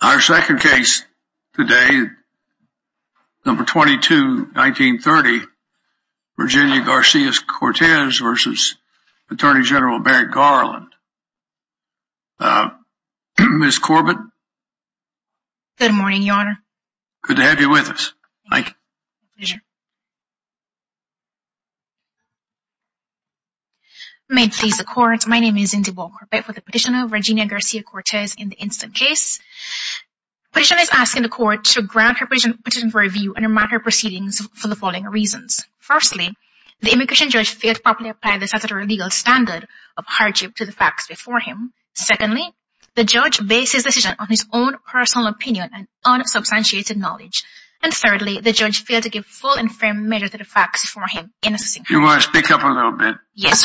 Our second case today, number 22-1930, Virginia Garcia Cortes v. Attorney General Merrick Garland. Ms. Corbett? Good morning, Your Honor. Good to have you with us. Thank you. My pleasure. Your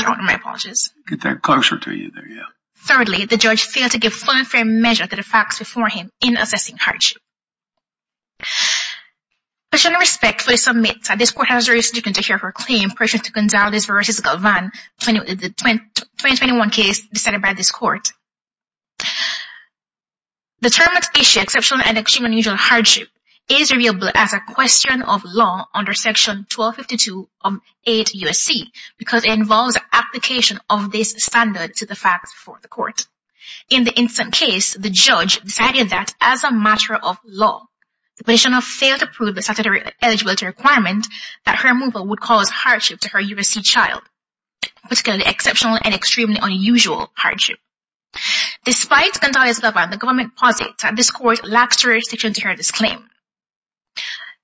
Honor, my apologies. Get that closer to you there, yeah. Thirdly, the judge failed to give full and fair measure to the facts before him in assessing hardship. Question of respect for the submitter, this court has the right to continue to hear her claim, pursuant to Gonzales v. Galvan, the 2021 case decided by this court. The termination of exceptional and extremely unusual hardship is available as a question of law under Section 1252-8 U.S.C. because it involves application of this standard to the facts before the court. In the incident case, the judge decided that, as a matter of law, the petitioner failed to prove the statutory eligibility requirement that her removal would cause hardship to her U.S.C. child, particularly exceptional and extremely unusual hardship. Despite Gonzales v. Galvan, the government posits that this court lacks jurisdiction to hear this claim.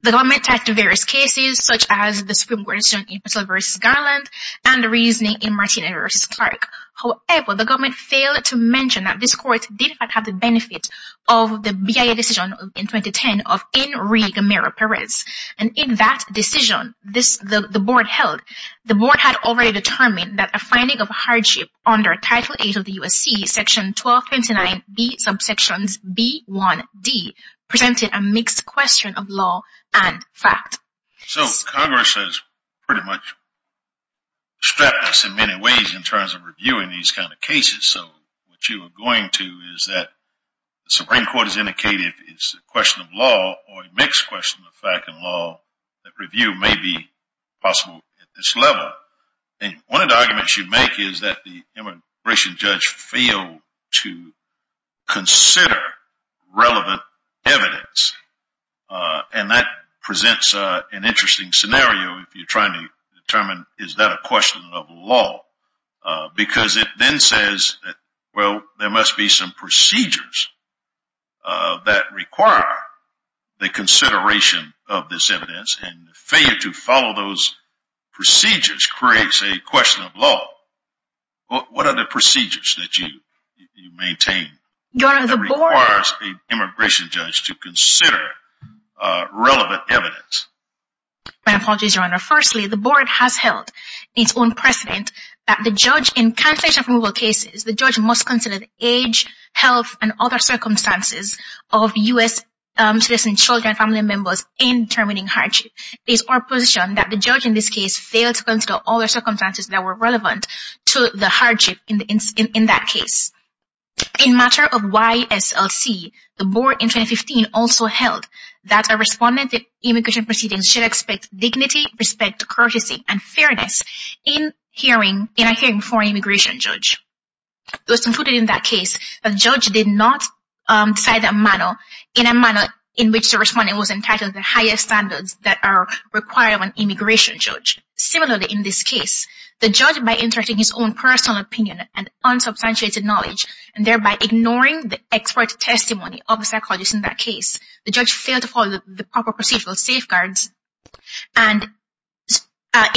The government attacked various cases, such as the Supreme Court decision in Priscilla v. Garland and the reasoning in Martínez v. Clark. However, the government failed to mention that this court did in fact have the benefit of the BIA decision in 2010 of Enrique Meira-Pérez. And in that decision, the board had already determined that a finding of hardship under Title 8 of the U.S.C., Section 1229b, subsections b, 1, d, presented a mixed question of law and fact. So Congress has pretty much strapped us in many ways in terms of reviewing these kind of cases. So what you are going to is that the Supreme Court has indicated it's a question of law or a mixed question of fact and law that review may be possible at this level. And one of the arguments you make is that the immigration judge failed to consider relevant evidence. And that presents an interesting scenario if you're trying to determine, is that a question of law? Because it then says, well, there must be some procedures that require the consideration of this evidence. And failure to follow those procedures creates a question of law. What are the procedures that you maintain that requires an immigration judge to consider relevant evidence? My apologies, Your Honor. Firstly, the board has held its own precedent that the judge in cancellation of removal cases, the judge must consider the age, health, and other circumstances of U.S. citizens, children, and family members in determining hardship. It is our position that the judge in this case failed to consider all the circumstances that were relevant to the hardship in that case. In matter of YSLC, the board in 2015 also held that a respondent in immigration proceedings should expect dignity, respect, courtesy, and fairness in a hearing for an immigration judge. It was concluded in that case that the judge did not decide in a manner in which the respondent was entitled to the highest standards that are required of an immigration judge. Similarly, in this case, the judge, by inserting his own personal opinion and unsubstantiated knowledge, and thereby ignoring the expert testimony of the psychologist in that case, the judge failed to follow the proper procedural safeguards in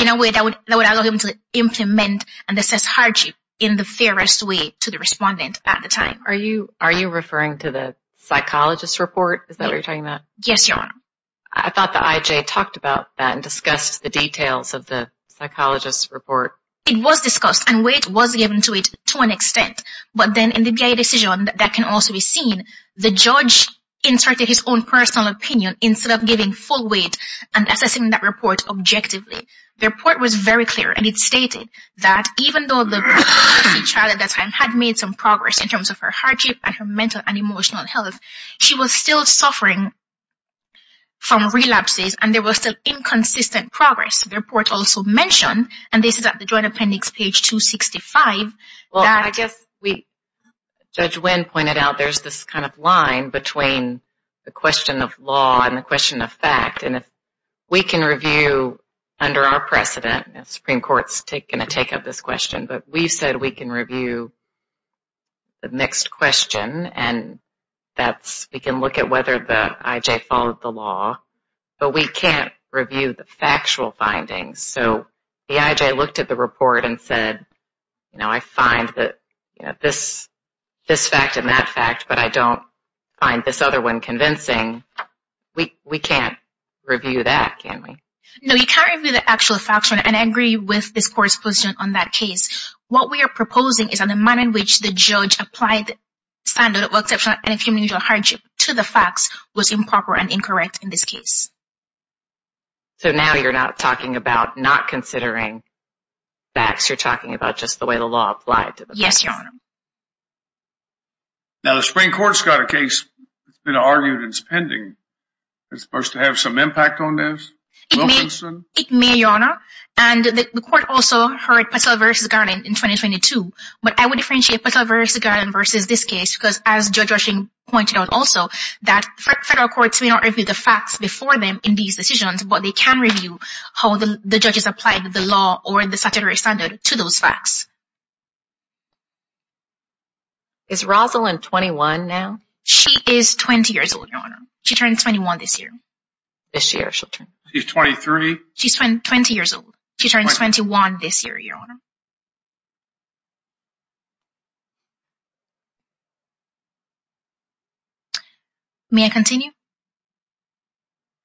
a way that would allow him to implement and assess hardship in the fairest way to the respondent at the time. Are you referring to the psychologist's report? Is that what you're talking about? Yes, Your Honor. I thought the IJ talked about that and discussed the details of the psychologist's report. It was discussed and weight was given to it to an extent, but then in the BIA decision that can also be seen, the judge inserted his own personal opinion instead of giving full weight and assessing that report objectively. The report was very clear and it stated that even though the child at that time had made some progress in terms of her hardship and her mental and emotional health, she was still suffering from relapses and there was still inconsistent progress. The report also mentioned, and this is at the Joint Appendix, page 265. Judge Wynn pointed out there's this kind of line between the question of law and the question of fact, and if we can review under our precedent, the Supreme Court's going to take up this question, but we've said we can review the next question and we can look at whether the IJ followed the law, but we can't review the factual findings. So the IJ looked at the report and said, you know, I find this fact and that fact, but I don't find this other one convincing. We can't review that, can we? No, you can't review the actual facts and I agree with this Court's position on that case. What we are proposing is that the manner in which the judge applied the standard of exceptional and infeminine hardship to the facts was improper and incorrect in this case. So now you're not talking about not considering facts, you're talking about just the way the law applied to the facts. Yes, Your Honor. Now, the Supreme Court's got a case that's been argued and it's pending. Is it supposed to have some impact on this? It may, Your Honor, and the Court also heard Patel v. Garland in 2022, but I would differentiate Patel v. Garland versus this case because, as Judge Rushing pointed out also, that federal courts may not review the facts before them in these decisions, but they can review how the judges applied the law or the statutory standard to those facts. Is Rosalyn 21 now? She is 20 years old, Your Honor. She turns 21 this year. This year she'll turn? She's 23? She's 20 years old. She turns 21 this year, Your Honor. May I continue?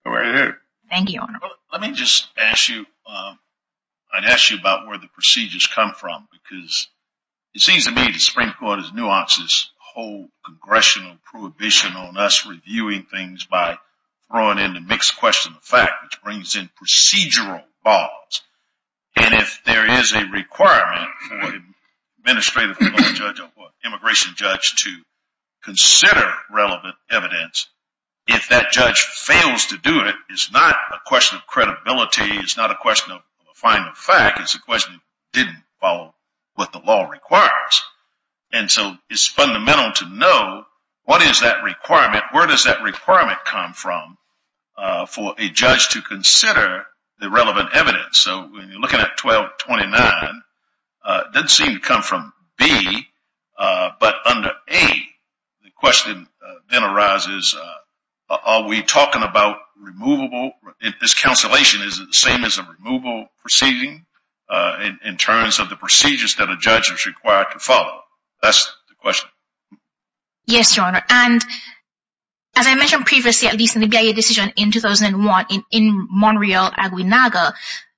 Go right ahead. Thank you, Your Honor. Let me just ask you, I'd ask you about where the procedures come from, because it seems to me the Supreme Court has nuanced this whole congressional prohibition on us reviewing things by throwing in the mixed question of fact, which brings in procedural laws. And if there is a requirement for an administrative judge or immigration judge to consider relevant evidence, if that judge fails to do it, it's not a question of credibility. It's not a question of finding a fact. It's a question of didn't follow what the law requires. And so it's fundamental to know what is that requirement, where does that requirement come from for a judge to consider the relevant evidence? So when you're looking at 1229, it doesn't seem to come from B. But under A, the question then arises, are we talking about removable? This cancellation, is it the same as a removable proceeding in terms of the procedures that a judge is required to follow? Yes, Your Honor. And as I mentioned previously, at least in the BIA decision in 2001 in Monreale, Aguinaga,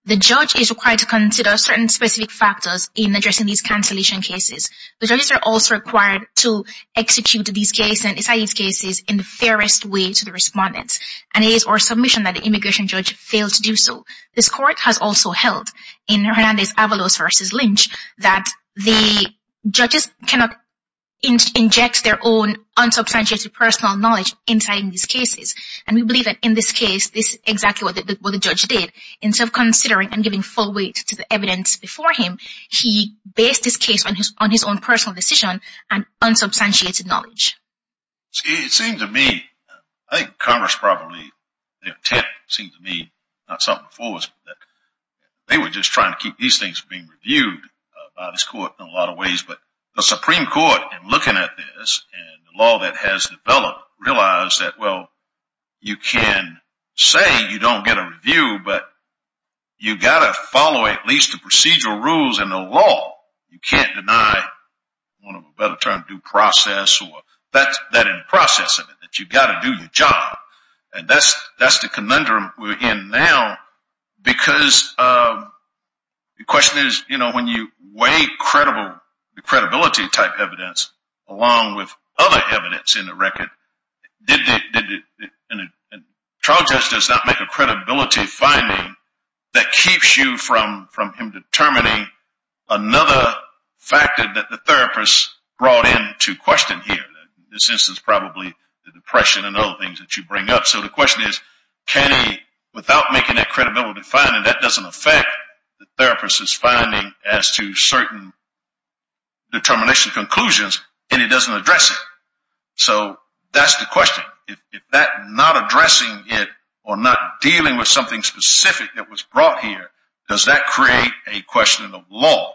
the judge is required to consider certain specific factors in addressing these cancellation cases. The judges are also required to execute these cases and cite these cases in the fairest way to the respondents. And it is our submission that the immigration judge failed to do so. This court has also held in Hernandez-Avalos v. Lynch that the judges cannot inject their own unsubstantiated personal knowledge inside these cases. And we believe that in this case, this is exactly what the judge did. Instead of considering and giving full weight to the evidence before him, he based his case on his own personal decision and unsubstantiated knowledge. It seems to me, I think Congress probably, their attempt seems to me, not something for us, but they were just trying to keep these things from being reviewed by this court in a lot of ways. But the Supreme Court, in looking at this and the law that has developed, realized that, well, you can say you don't get a review, but you've got to follow at least the procedural rules in the law. You can't deny one of a better term, due process, or that in the process of it, that you've got to do your job. And that's the conundrum we're in now because the question is, you know, when you weigh the credibility type evidence along with other evidence in the record, a trial judge does not make a credibility finding that keeps you from him determining another factor that the therapist brought into question here. In this instance, probably the depression and other things that you bring up. So the question is, can he, without making that credibility finding, that doesn't affect the therapist's finding as to certain determination conclusions, and he doesn't address it. So that's the question. If that not addressing it or not dealing with something specific that was brought here, does that create a question of law?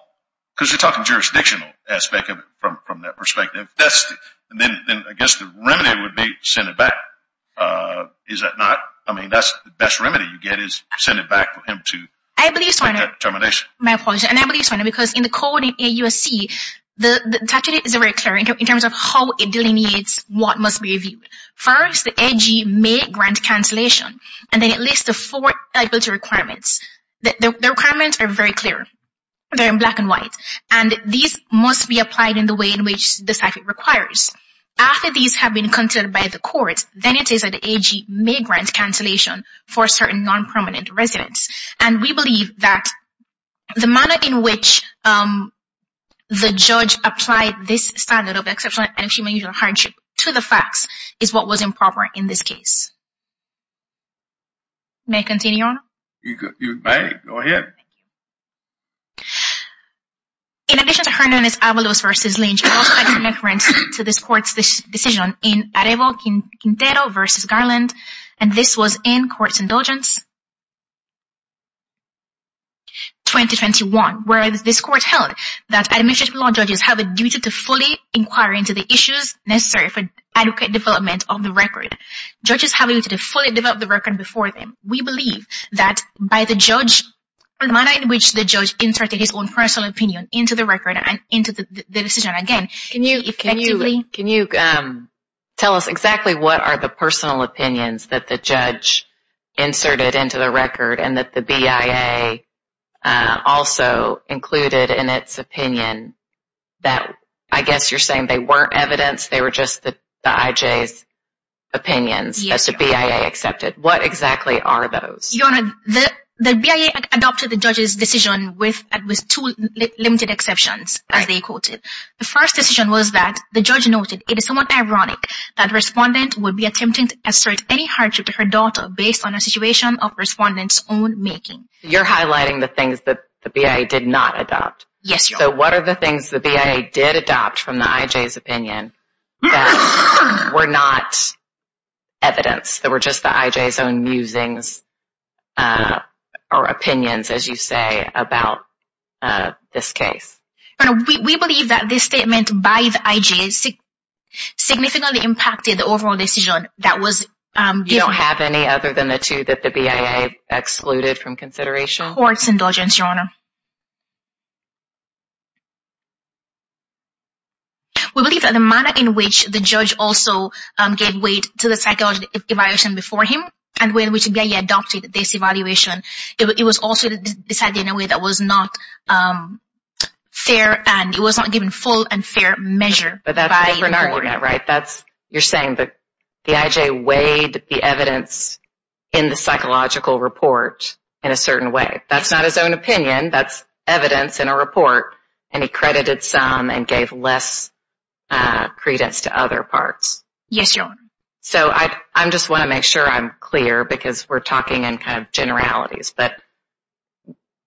Because you're talking jurisdictional aspect of it from that perspective. Then I guess the remedy would be send it back. Is that not? I mean, that's the best remedy you get is send it back for him to make that determination. My apologies, and I believe it's funny because in the code in AUSC, the statute is very clear in terms of how it delineates what must be reviewed. First, the AG may grant cancellation, and then it lists the four eligibility requirements. The requirements are very clear. They're in black and white, and these must be applied in the way in which the statute requires. After these have been considered by the court, then it is that the AG may grant cancellation for certain non-prominent residents. And we believe that the manner in which the judge applied this standard of exceptional and extreme unusual hardship to the facts is what was improper in this case. May I continue on? You may. Go ahead. In addition to Hernandez-Avalos v. Lynch, I'd also like to make reference to this court's decision in Areval Quintero v. Garland, and this was in Courts Indulgence 2021, where this court held that administrative law judges have a duty to fully inquire into the issues necessary for adequate development of the record. Judges have a duty to fully develop the record before them. We believe that by the manner in which the judge inserted his own personal opinion into the record and into the decision, again, effectively – that the judge inserted into the record and that the BIA also included in its opinion that, I guess you're saying they weren't evidence, they were just the IJ's opinions, as the BIA accepted. What exactly are those? Your Honor, the BIA adopted the judge's decision with two limited exceptions, as they quoted. The first decision was that the judge noted, that the respondent would be attempting to assert any hardship to her daughter based on a situation of the respondent's own making. You're highlighting the things that the BIA did not adopt. Yes, Your Honor. So what are the things the BIA did adopt from the IJ's opinion that were not evidence, that were just the IJ's own musings or opinions, as you say, about this case? Your Honor, we believe that this statement by the IJ significantly impacted the overall decision that was – You don't have any other than the two that the BIA excluded from consideration? Court's indulgence, Your Honor. We believe that the manner in which the judge also gave weight to the psychological evaluation before him and when the BIA adopted this evaluation, it was also decided in a way that was not fair and it was not given full and fair measure. But that's a different argument, right? You're saying that the IJ weighed the evidence in the psychological report in a certain way. That's not his own opinion. That's evidence in a report, and he credited some and gave less credence to other parts. Yes, Your Honor. So I just want to make sure I'm clear because we're talking in kind of generalities. But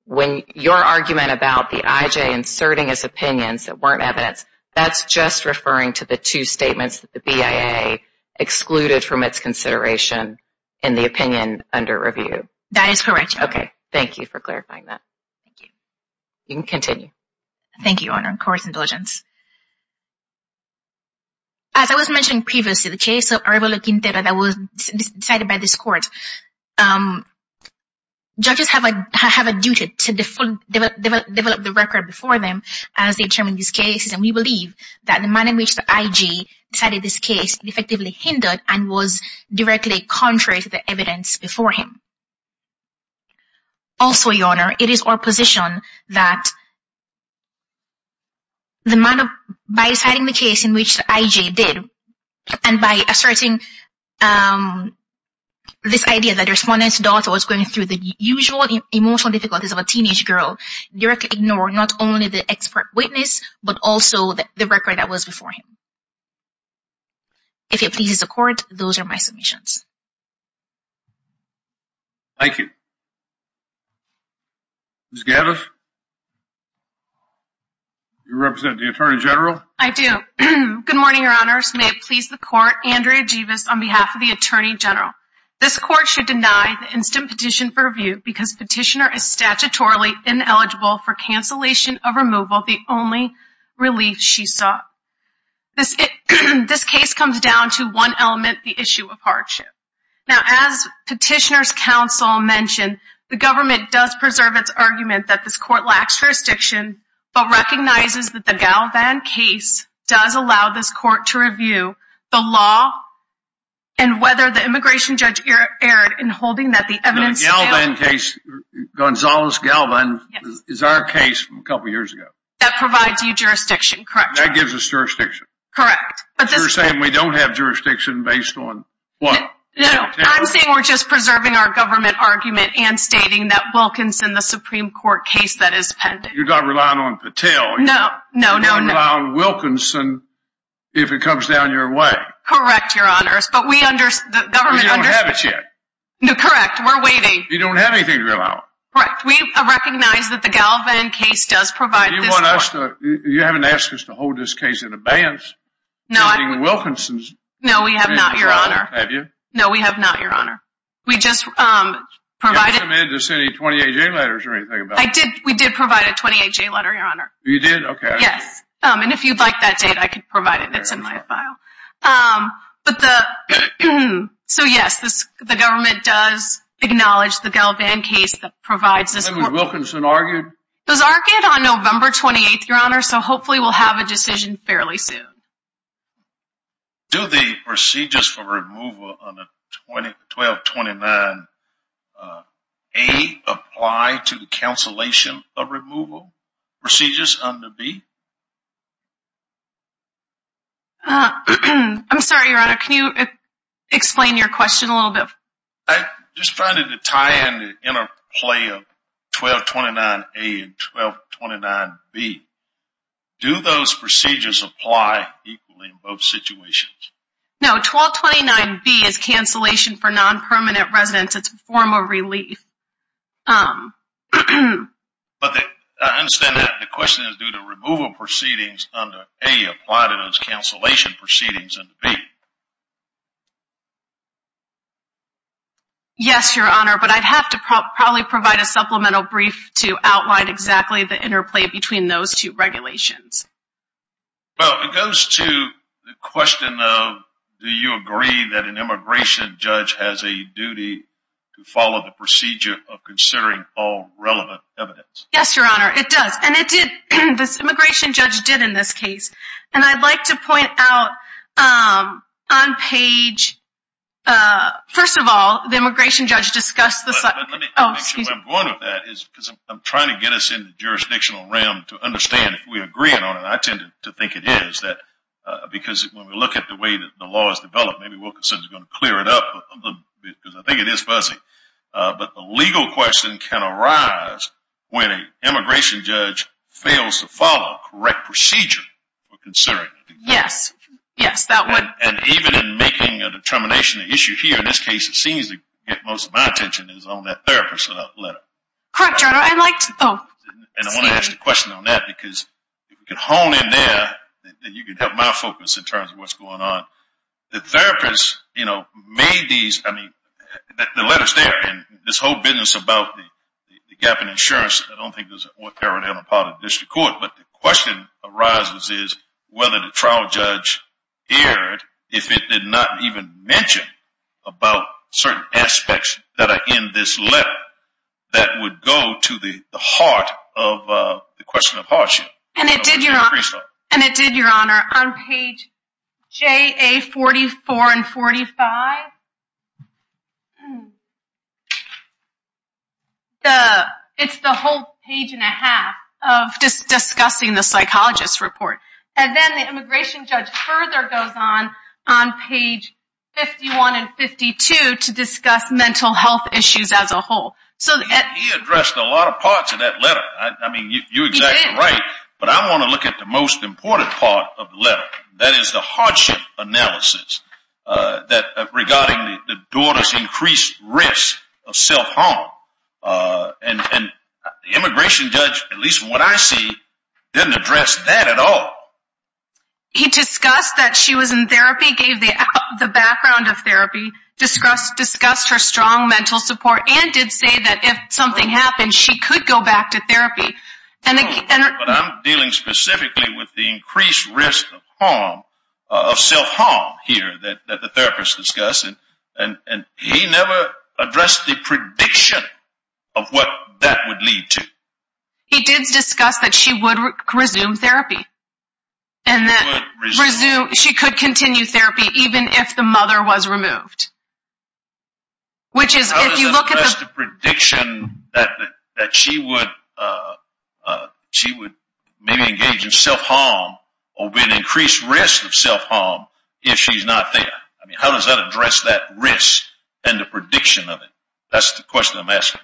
when your argument about the IJ inserting his opinions that weren't evidence, that's just referring to the two statements that the BIA excluded from its consideration in the opinion under review. That is correct, Your Honor. Okay. Thank you for clarifying that. Thank you. You can continue. Thank you, Your Honor. Court's indulgence. As I was mentioning previously, the case of Arevalo Quintero that was decided by this court, judges have a duty to develop the record before them as they determine these cases, and we believe that the manner in which the IJ decided this case effectively hindered and was directly contrary to the evidence before him. Also, Your Honor, it is our position that the manner by deciding the case in which the IJ did and by asserting this idea that the respondent's daughter was going through the usual emotional difficulties of a teenage girl, directly ignored not only the expert witness but also the record that was before him. If it pleases the court, those are my submissions. Thank you. Ms. Gavis, you represent the Attorney General? I do. Good morning, Your Honors. May it please the court, Andrea Givas on behalf of the Attorney General. This court should deny the instant petition for review because petitioner is statutorily ineligible for cancellation of removal, the only relief she sought. This case comes down to one element, the issue of hardship. Now, as petitioner's counsel mentioned, the government does preserve its argument that this court lacks jurisdiction but recognizes that the Galvan case does allow this court to review the law and whether the immigration judge erred in holding that the evidence… The Galvan case, Gonzales-Galvan, is our case from a couple of years ago. That provides you jurisdiction, correct? That gives us jurisdiction. Correct. You're saying we don't have jurisdiction based on what? No, I'm saying we're just preserving our government argument and stating that Wilkinson, the Supreme Court case that is pending. You're not relying on Patel. No, no, no, no. You're relying on Wilkinson if it comes down your way. Correct, Your Honors. But we understand… But you don't have it yet. No, correct. We're waiting. You don't have anything to rely on. Correct. We recognize that the Galvan case does provide this court… You haven't asked us to hold this case in abeyance? No, we have not, Your Honor. Have you? No, we have not, Your Honor. We just provided… You haven't submitted any 28-J letters or anything? We did provide a 28-J letter, Your Honor. You did? Okay. Yes. And if you'd like that data, I could provide it. It's in my file. But the… Get it. So, yes, the government does acknowledge the Galvan case that provides this court… And has Wilkinson argued? It was argued on November 28th, Your Honor, so hopefully we'll have a decision fairly soon. Do the procedures for removal under 1229A apply to the cancellation of removal procedures under B? I'm sorry, Your Honor. Can you explain your question a little bit? I'm just trying to tie in the interplay of 1229A and 1229B. Do those procedures apply equally in both situations? No, 1229B is cancellation for non-permanent residents. It's a form of relief. But I understand that the question is, do the removal proceedings under A apply to those cancellation proceedings under B? Yes, Your Honor, but I'd have to probably provide a supplemental brief to outline exactly the interplay between those two regulations. Well, it goes to the question of, do you agree that an immigration judge has a duty to follow the procedure of considering all relevant evidence? Yes, Your Honor, it does. And it did. This immigration judge did in this case. And I'd like to point out on page... First of all, the immigration judge discussed the... Let me make sure I'm going with that, because I'm trying to get us in the jurisdictional realm to understand if we're agreeing on it. I tend to think it is, because when we look at the way the law is developed, maybe Wilkinson is going to clear it up, because I think it is fuzzy. But the legal question can arise when an immigration judge fails to follow correct procedure for considering. Yes. Yes, that would... And even in making a determination, the issue here in this case, it seems to get most of my attention is on that therapist letter. Correct, Your Honor. I'd like to... Oh. And I want to ask a question on that, because if we can hone in there, then you can help my focus in terms of what's going on. The therapist, you know, made these... I mean, the letter's there, and this whole business about the gap in insurance, I don't think there's... But the question arises is whether the trial judge erred if it did not even mention about certain aspects that are in this letter that would go to the heart of the question of hardship. And it did, Your Honor. And it did, Your Honor. On page JA44 and 45, it's the whole page and a half of discussing the psychologist report. And then the immigration judge further goes on, on page 51 and 52, to discuss mental health issues as a whole. He addressed a lot of parts of that letter. I mean, you're exactly right, but I want to look at the most important part of the letter. That is the hardship analysis regarding the daughter's increased risk of self-harm. And the immigration judge, at least from what I see, didn't address that at all. He discussed that she was in therapy, gave the background of therapy, discussed her strong mental support, and did say that if something happened, she could go back to therapy. But I'm dealing specifically with the increased risk of harm, of self-harm here that the therapist discussed, and he never addressed the prediction of what that would lead to. He did discuss that she would resume therapy, and that she could continue therapy even if the mother was removed. How does that address the prediction that she would maybe engage in self-harm or be at increased risk of self-harm if she's not there? I mean, how does that address that risk and the prediction of it? That's the question I'm asking.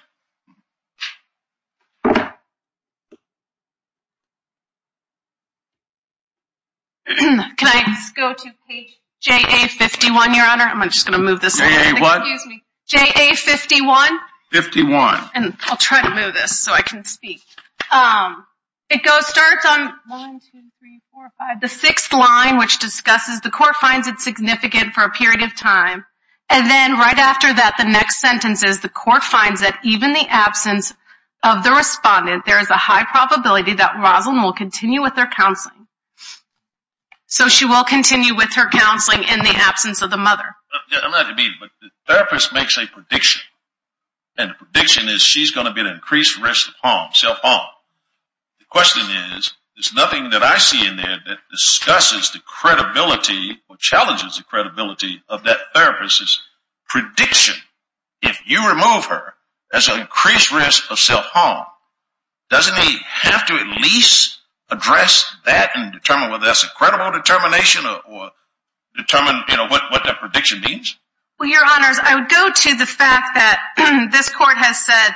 Can I just go to page JA-51, Your Honor? I'm just going to move this a little bit. Excuse me. JA-51? 51. I'll try to move this so I can speak. It starts on 1, 2, 3, 4, 5, the sixth line, which discusses the court finds it significant for a period of time. And then right after that, the next sentence is, the court finds that even in the absence of the respondent, there is a high probability that Rosalyn will continue with her counseling. So she will continue with her counseling in the absence of the mother. I'm not immediate, but the therapist makes a prediction, and the prediction is she's going to be at increased risk of harm, self-harm. The question is, there's nothing that I see in there that discusses the credibility or challenges the credibility of that therapist's prediction. If you remove her, there's an increased risk of self-harm. Doesn't he have to at least address that and determine whether that's a credible determination or determine what that prediction means? Well, your honors, I would go to the fact that this court has said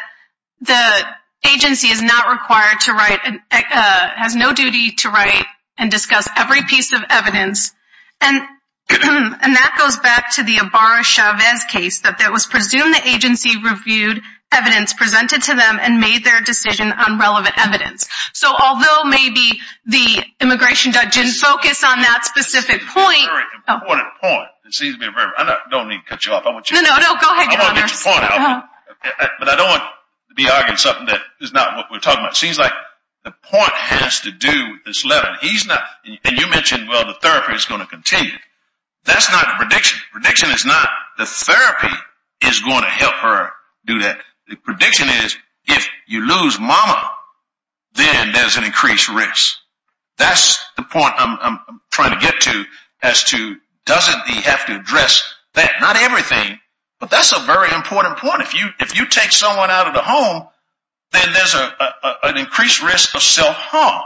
the agency is not required to write, has no duty to write and discuss every piece of evidence. And that goes back to the Ibarra-Chavez case, that it was presumed the agency reviewed evidence presented to them and made their decision on relevant evidence. So although maybe the immigration judge didn't focus on that specific point. Very important point. I don't need to cut you off. I want to get your point out. But I don't want to be arguing something that is not what we're talking about. It seems like the point has to do with this letter. And you mentioned, well, the therapy is going to continue. That's not the prediction. The prediction is not the therapy is going to help her do that. The prediction is if you lose mama, then there's an increased risk. That's the point I'm trying to get to as to doesn't he have to address that? Not everything. But that's a very important point. If you if you take someone out of the home, then there's an increased risk of self-harm,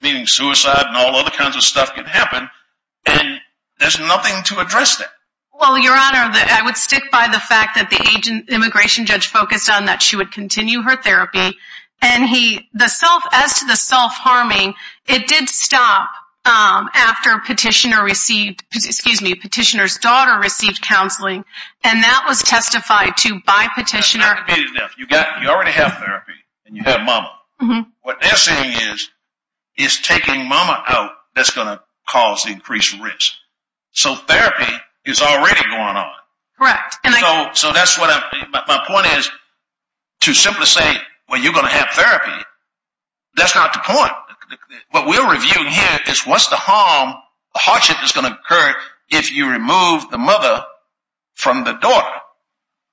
meaning suicide and all other kinds of stuff can happen. And there's nothing to address that. Well, your honor, I would stick by the fact that the agent immigration judge focused on that. She would continue her therapy and he the self as to the self harming. It did stop after petitioner received excuse me, petitioner's daughter received counseling. And that was testified to by petitioner. You got you already have therapy and you have mama. What they're saying is is taking mama out. That's going to cause increased risk. So therapy is already going on. Correct. And so so that's what my point is to simply say, well, you're going to have therapy. That's not the point. What we're reviewing here is what's the harm? Hardship is going to occur if you remove the mother from the door.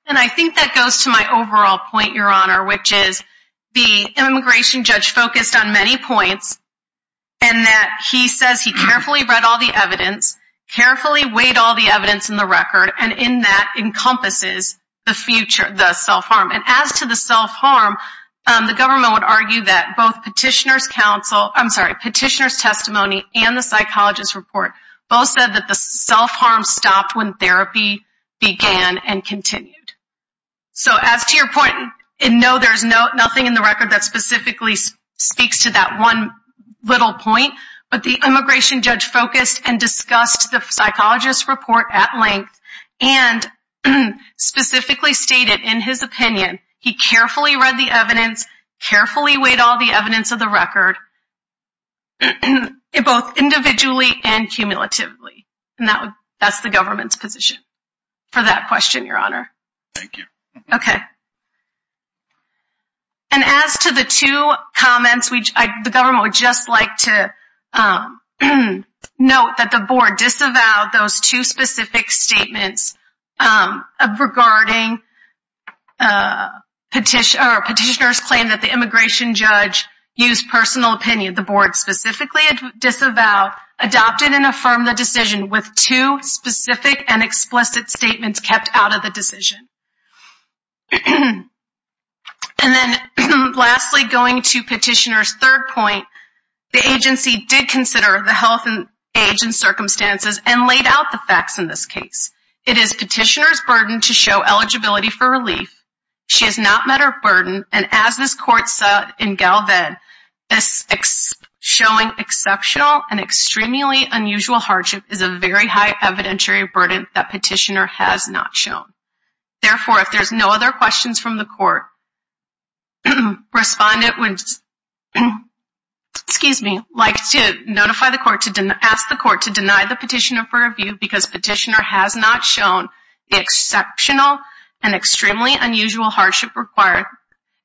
And I think that goes to my overall point, your honor, which is the immigration judge focused on many points. And that he says he carefully read all the evidence, carefully weighed all the evidence in the record. And in that encompasses the future, the self-harm. And as to the self-harm, the government would argue that both petitioner's counsel. I'm sorry, petitioner's testimony and the psychologist report both said that the self-harm stopped when therapy began and continued. So as to your point, no, there's no nothing in the record that specifically speaks to that one little point. But the immigration judge focused and discussed the psychologist report at length and specifically stated in his opinion, he carefully read the evidence, carefully weighed all the evidence of the record. Both individually and cumulatively. And that's the government's position for that question, your honor. Thank you. Okay. And as to the two comments, the government would just like to note that the board disavowed those two specific statements regarding petitioner's claim that the immigration judge used personal opinion. The board specifically disavowed, adopted and affirmed the decision with two specific and explicit statements kept out of the decision. And then lastly, going to petitioner's third point, the agency did consider the health and age and circumstances and laid out the facts in this case. It is petitioner's burden to show eligibility for relief. She has not met her burden. And as this court said in Galved, showing exceptional and extremely unusual hardship is a very high evidentiary burden that petitioner has not shown. Therefore, if there's no other questions from the court, respondent would like to ask the court to deny the petitioner for review because petitioner has not shown the exceptional and extremely unusual hardship required,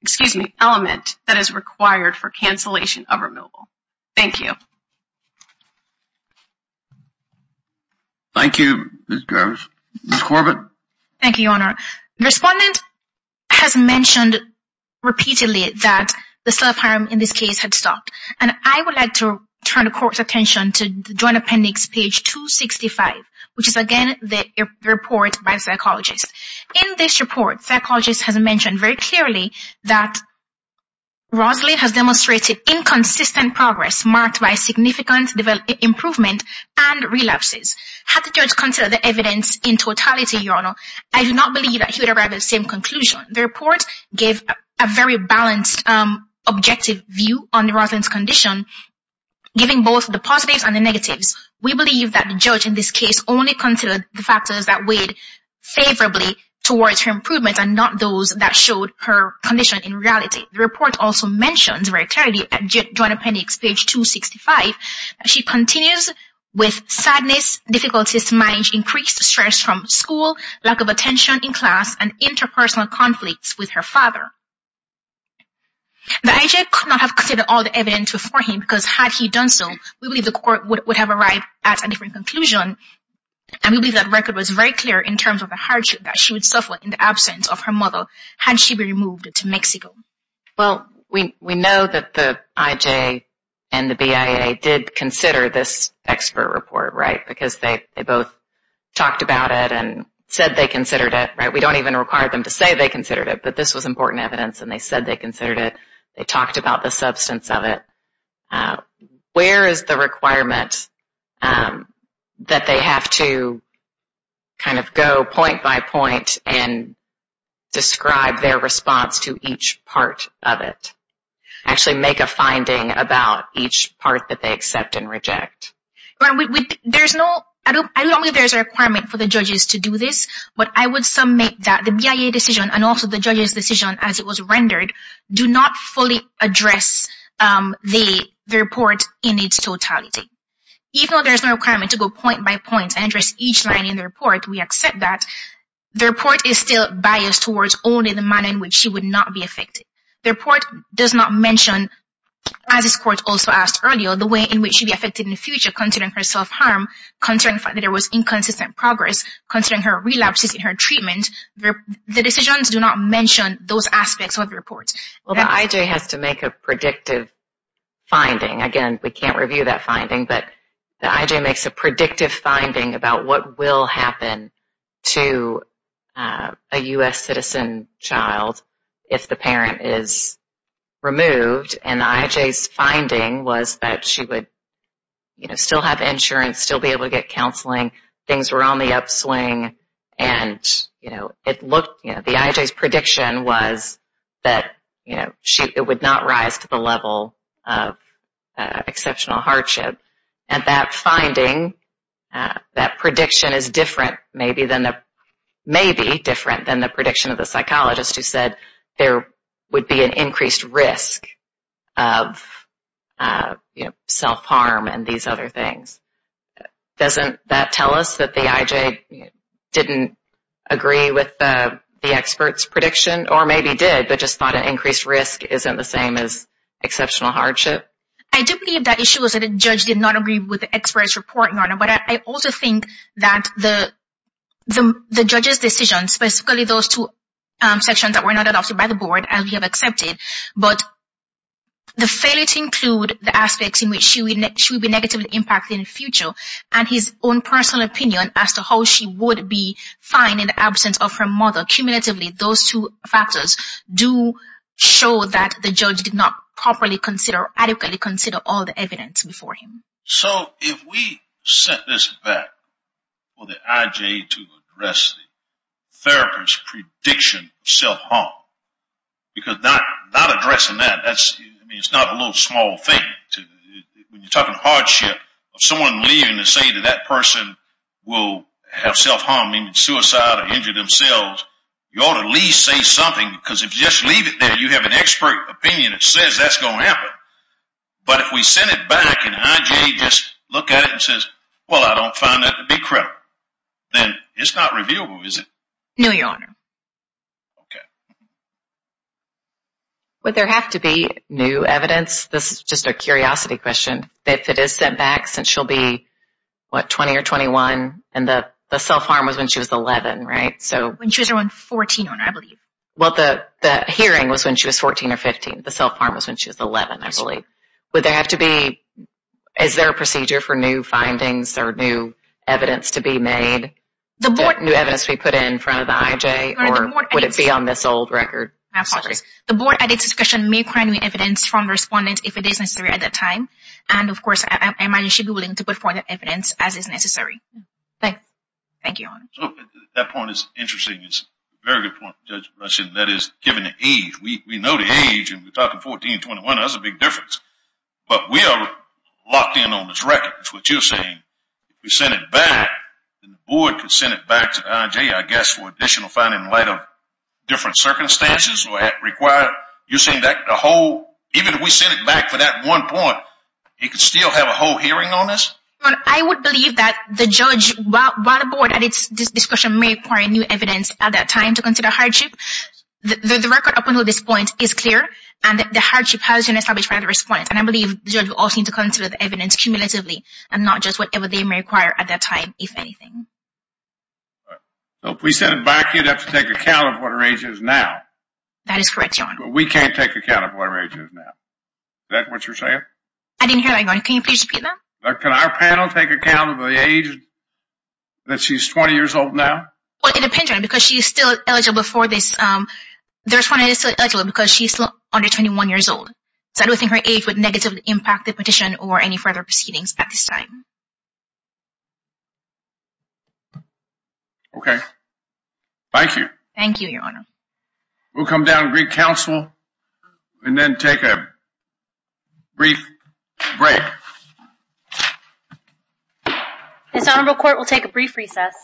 excuse me, element that is required for cancellation of removal. Thank you. Thank you, Ms. Garves. Ms. Corbett. Thank you, your honor. Respondent has mentioned repeatedly that the self-harm in this case had stopped. And I would like to turn the court's attention to Joint Appendix page 265, which is again the report by the psychologist. In this report, psychologist has mentioned very clearly that Roslyn has demonstrated inconsistent progress marked by significant improvement and relapses. Had the judge considered the evidence in totality, your honor, I do not believe that he would arrive at the same conclusion. The report gave a very balanced, objective view on Roslyn's condition, giving both the positives and the negatives. We believe that the judge in this case only considered the factors that weighed favorably towards her improvements and not those that showed her condition in reality. The report also mentions very clearly at Joint Appendix page 265, she continues with sadness, difficulties to manage increased stress from school, lack of attention in class, and interpersonal conflicts with her father. The IJ could not have considered all the evidence before him because had he done so, we believe the court would have arrived at a different conclusion. And we believe that record was very clear in terms of the hardship that she would suffer in the absence of her mother had she been moved to Mexico. Well, we know that the IJ and the BIA did consider this expert report, right? Because they both talked about it and said they considered it, right? We don't even require them to say they considered it, but this was important evidence and they said they considered it. They talked about the substance of it. Where is the requirement that they have to kind of go point by point and describe their response to each part of it? Actually make a finding about each part that they accept and reject? I don't know if there's a requirement for the judges to do this, but I would submit that the BIA decision and also the judges' decision as it was rendered do not fully address the report in its totality. Even though there's no requirement to go point by point and address each line in the report, we accept that. The report is still biased towards only the manner in which she would not be affected. The report does not mention, as this court also asked earlier, the way in which she would be affected in the future considering her self-harm, considering the fact that there was inconsistent progress, considering her relapses in her treatment. The decisions do not mention those aspects of the report. Well, the IJ has to make a predictive finding. Again, we can't review that finding, but the IJ makes a predictive finding about what will happen to a U.S. citizen child if the parent is removed. And the IJ's finding was that she would still have insurance, still be able to get counseling. Things were on the upswing, and the IJ's prediction was that it would not rise to the level of exceptional hardship. And that finding, that prediction is different, maybe different than the prediction of the psychologist who said there would be an increased risk of self-harm and these other things. Doesn't that tell us that the IJ didn't agree with the expert's prediction? Or maybe did, but just thought an increased risk isn't the same as exceptional hardship? I do believe that issue was that the judge did not agree with the expert's report, Your Honor. But I also think that the judge's decision, specifically those two sections that were not adopted by the board, as we have accepted, but the failure to include the aspects in which she would be negatively impacted in the future, and his own personal opinion as to how she would be fine in the absence of her mother. Cumulatively, those two factors do show that the judge did not properly consider, adequately consider all the evidence before him. So if we set this back for the IJ to address the therapist's prediction of self-harm, because not addressing that, it's not a little small thing. When you're talking hardship, someone leaving to say that that person will have self-harm, suicide, or injure themselves, you ought to at least say something. Because if you just leave it there, you have an expert opinion that says that's going to happen. But if we send it back and IJ just looks at it and says, well, I don't find that to be correct, then it's not reviewable, is it? No, Your Honor. Okay. Would there have to be new evidence? This is just a curiosity question. If it is sent back, since she'll be, what, 20 or 21, and the self-harm was when she was 11, right? When she was around 14, Your Honor, I believe. Well, the hearing was when she was 14 or 15. The self-harm was when she was 11, I believe. Would there have to be, is there a procedure for new findings or new evidence to be made, new evidence to be put in front of the IJ? Or would it be on this old record? I apologize. The board, at its discretion, may provide new evidence from respondents if it is necessary at that time. And, of course, I imagine she'd be willing to put forward the evidence as is necessary. Thank you, Your Honor. That point is interesting. It's a very good point, Judge Blushen. That is, given the age. We know the age, and we're talking 14, 21. That's a big difference. But we are locked in on this record. That's what you're saying. If we send it back, then the board can send it back to the IJ, I guess, for additional finding in light of different circumstances. You're saying that the whole, even if we send it back for that one point, it could still have a whole hearing on this? Your Honor, I would believe that the judge, while the board, at its discretion, may require new evidence at that time to consider hardship. The record up until this point is clear. And the hardship has been established by the respondents. And I believe the judge will also need to consider the evidence cumulatively and not just whatever they may require at that time, if anything. So if we send it back, you'd have to take account of what our age is now. That is correct, Your Honor. But we can't take account of what our age is now. I didn't hear that, Your Honor. Can you please repeat that? Can our panel take account of the age, that she's 20 years old now? Well, it depends, Your Honor, because she's still eligible for this. The respondent is still eligible because she's under 21 years old. So I don't think her age would negatively impact the petition or any further proceedings at this time. Okay. Thank you. Thank you, Your Honor. We'll come down to Greek Council and then take a brief break. This honorable court will take a brief recess.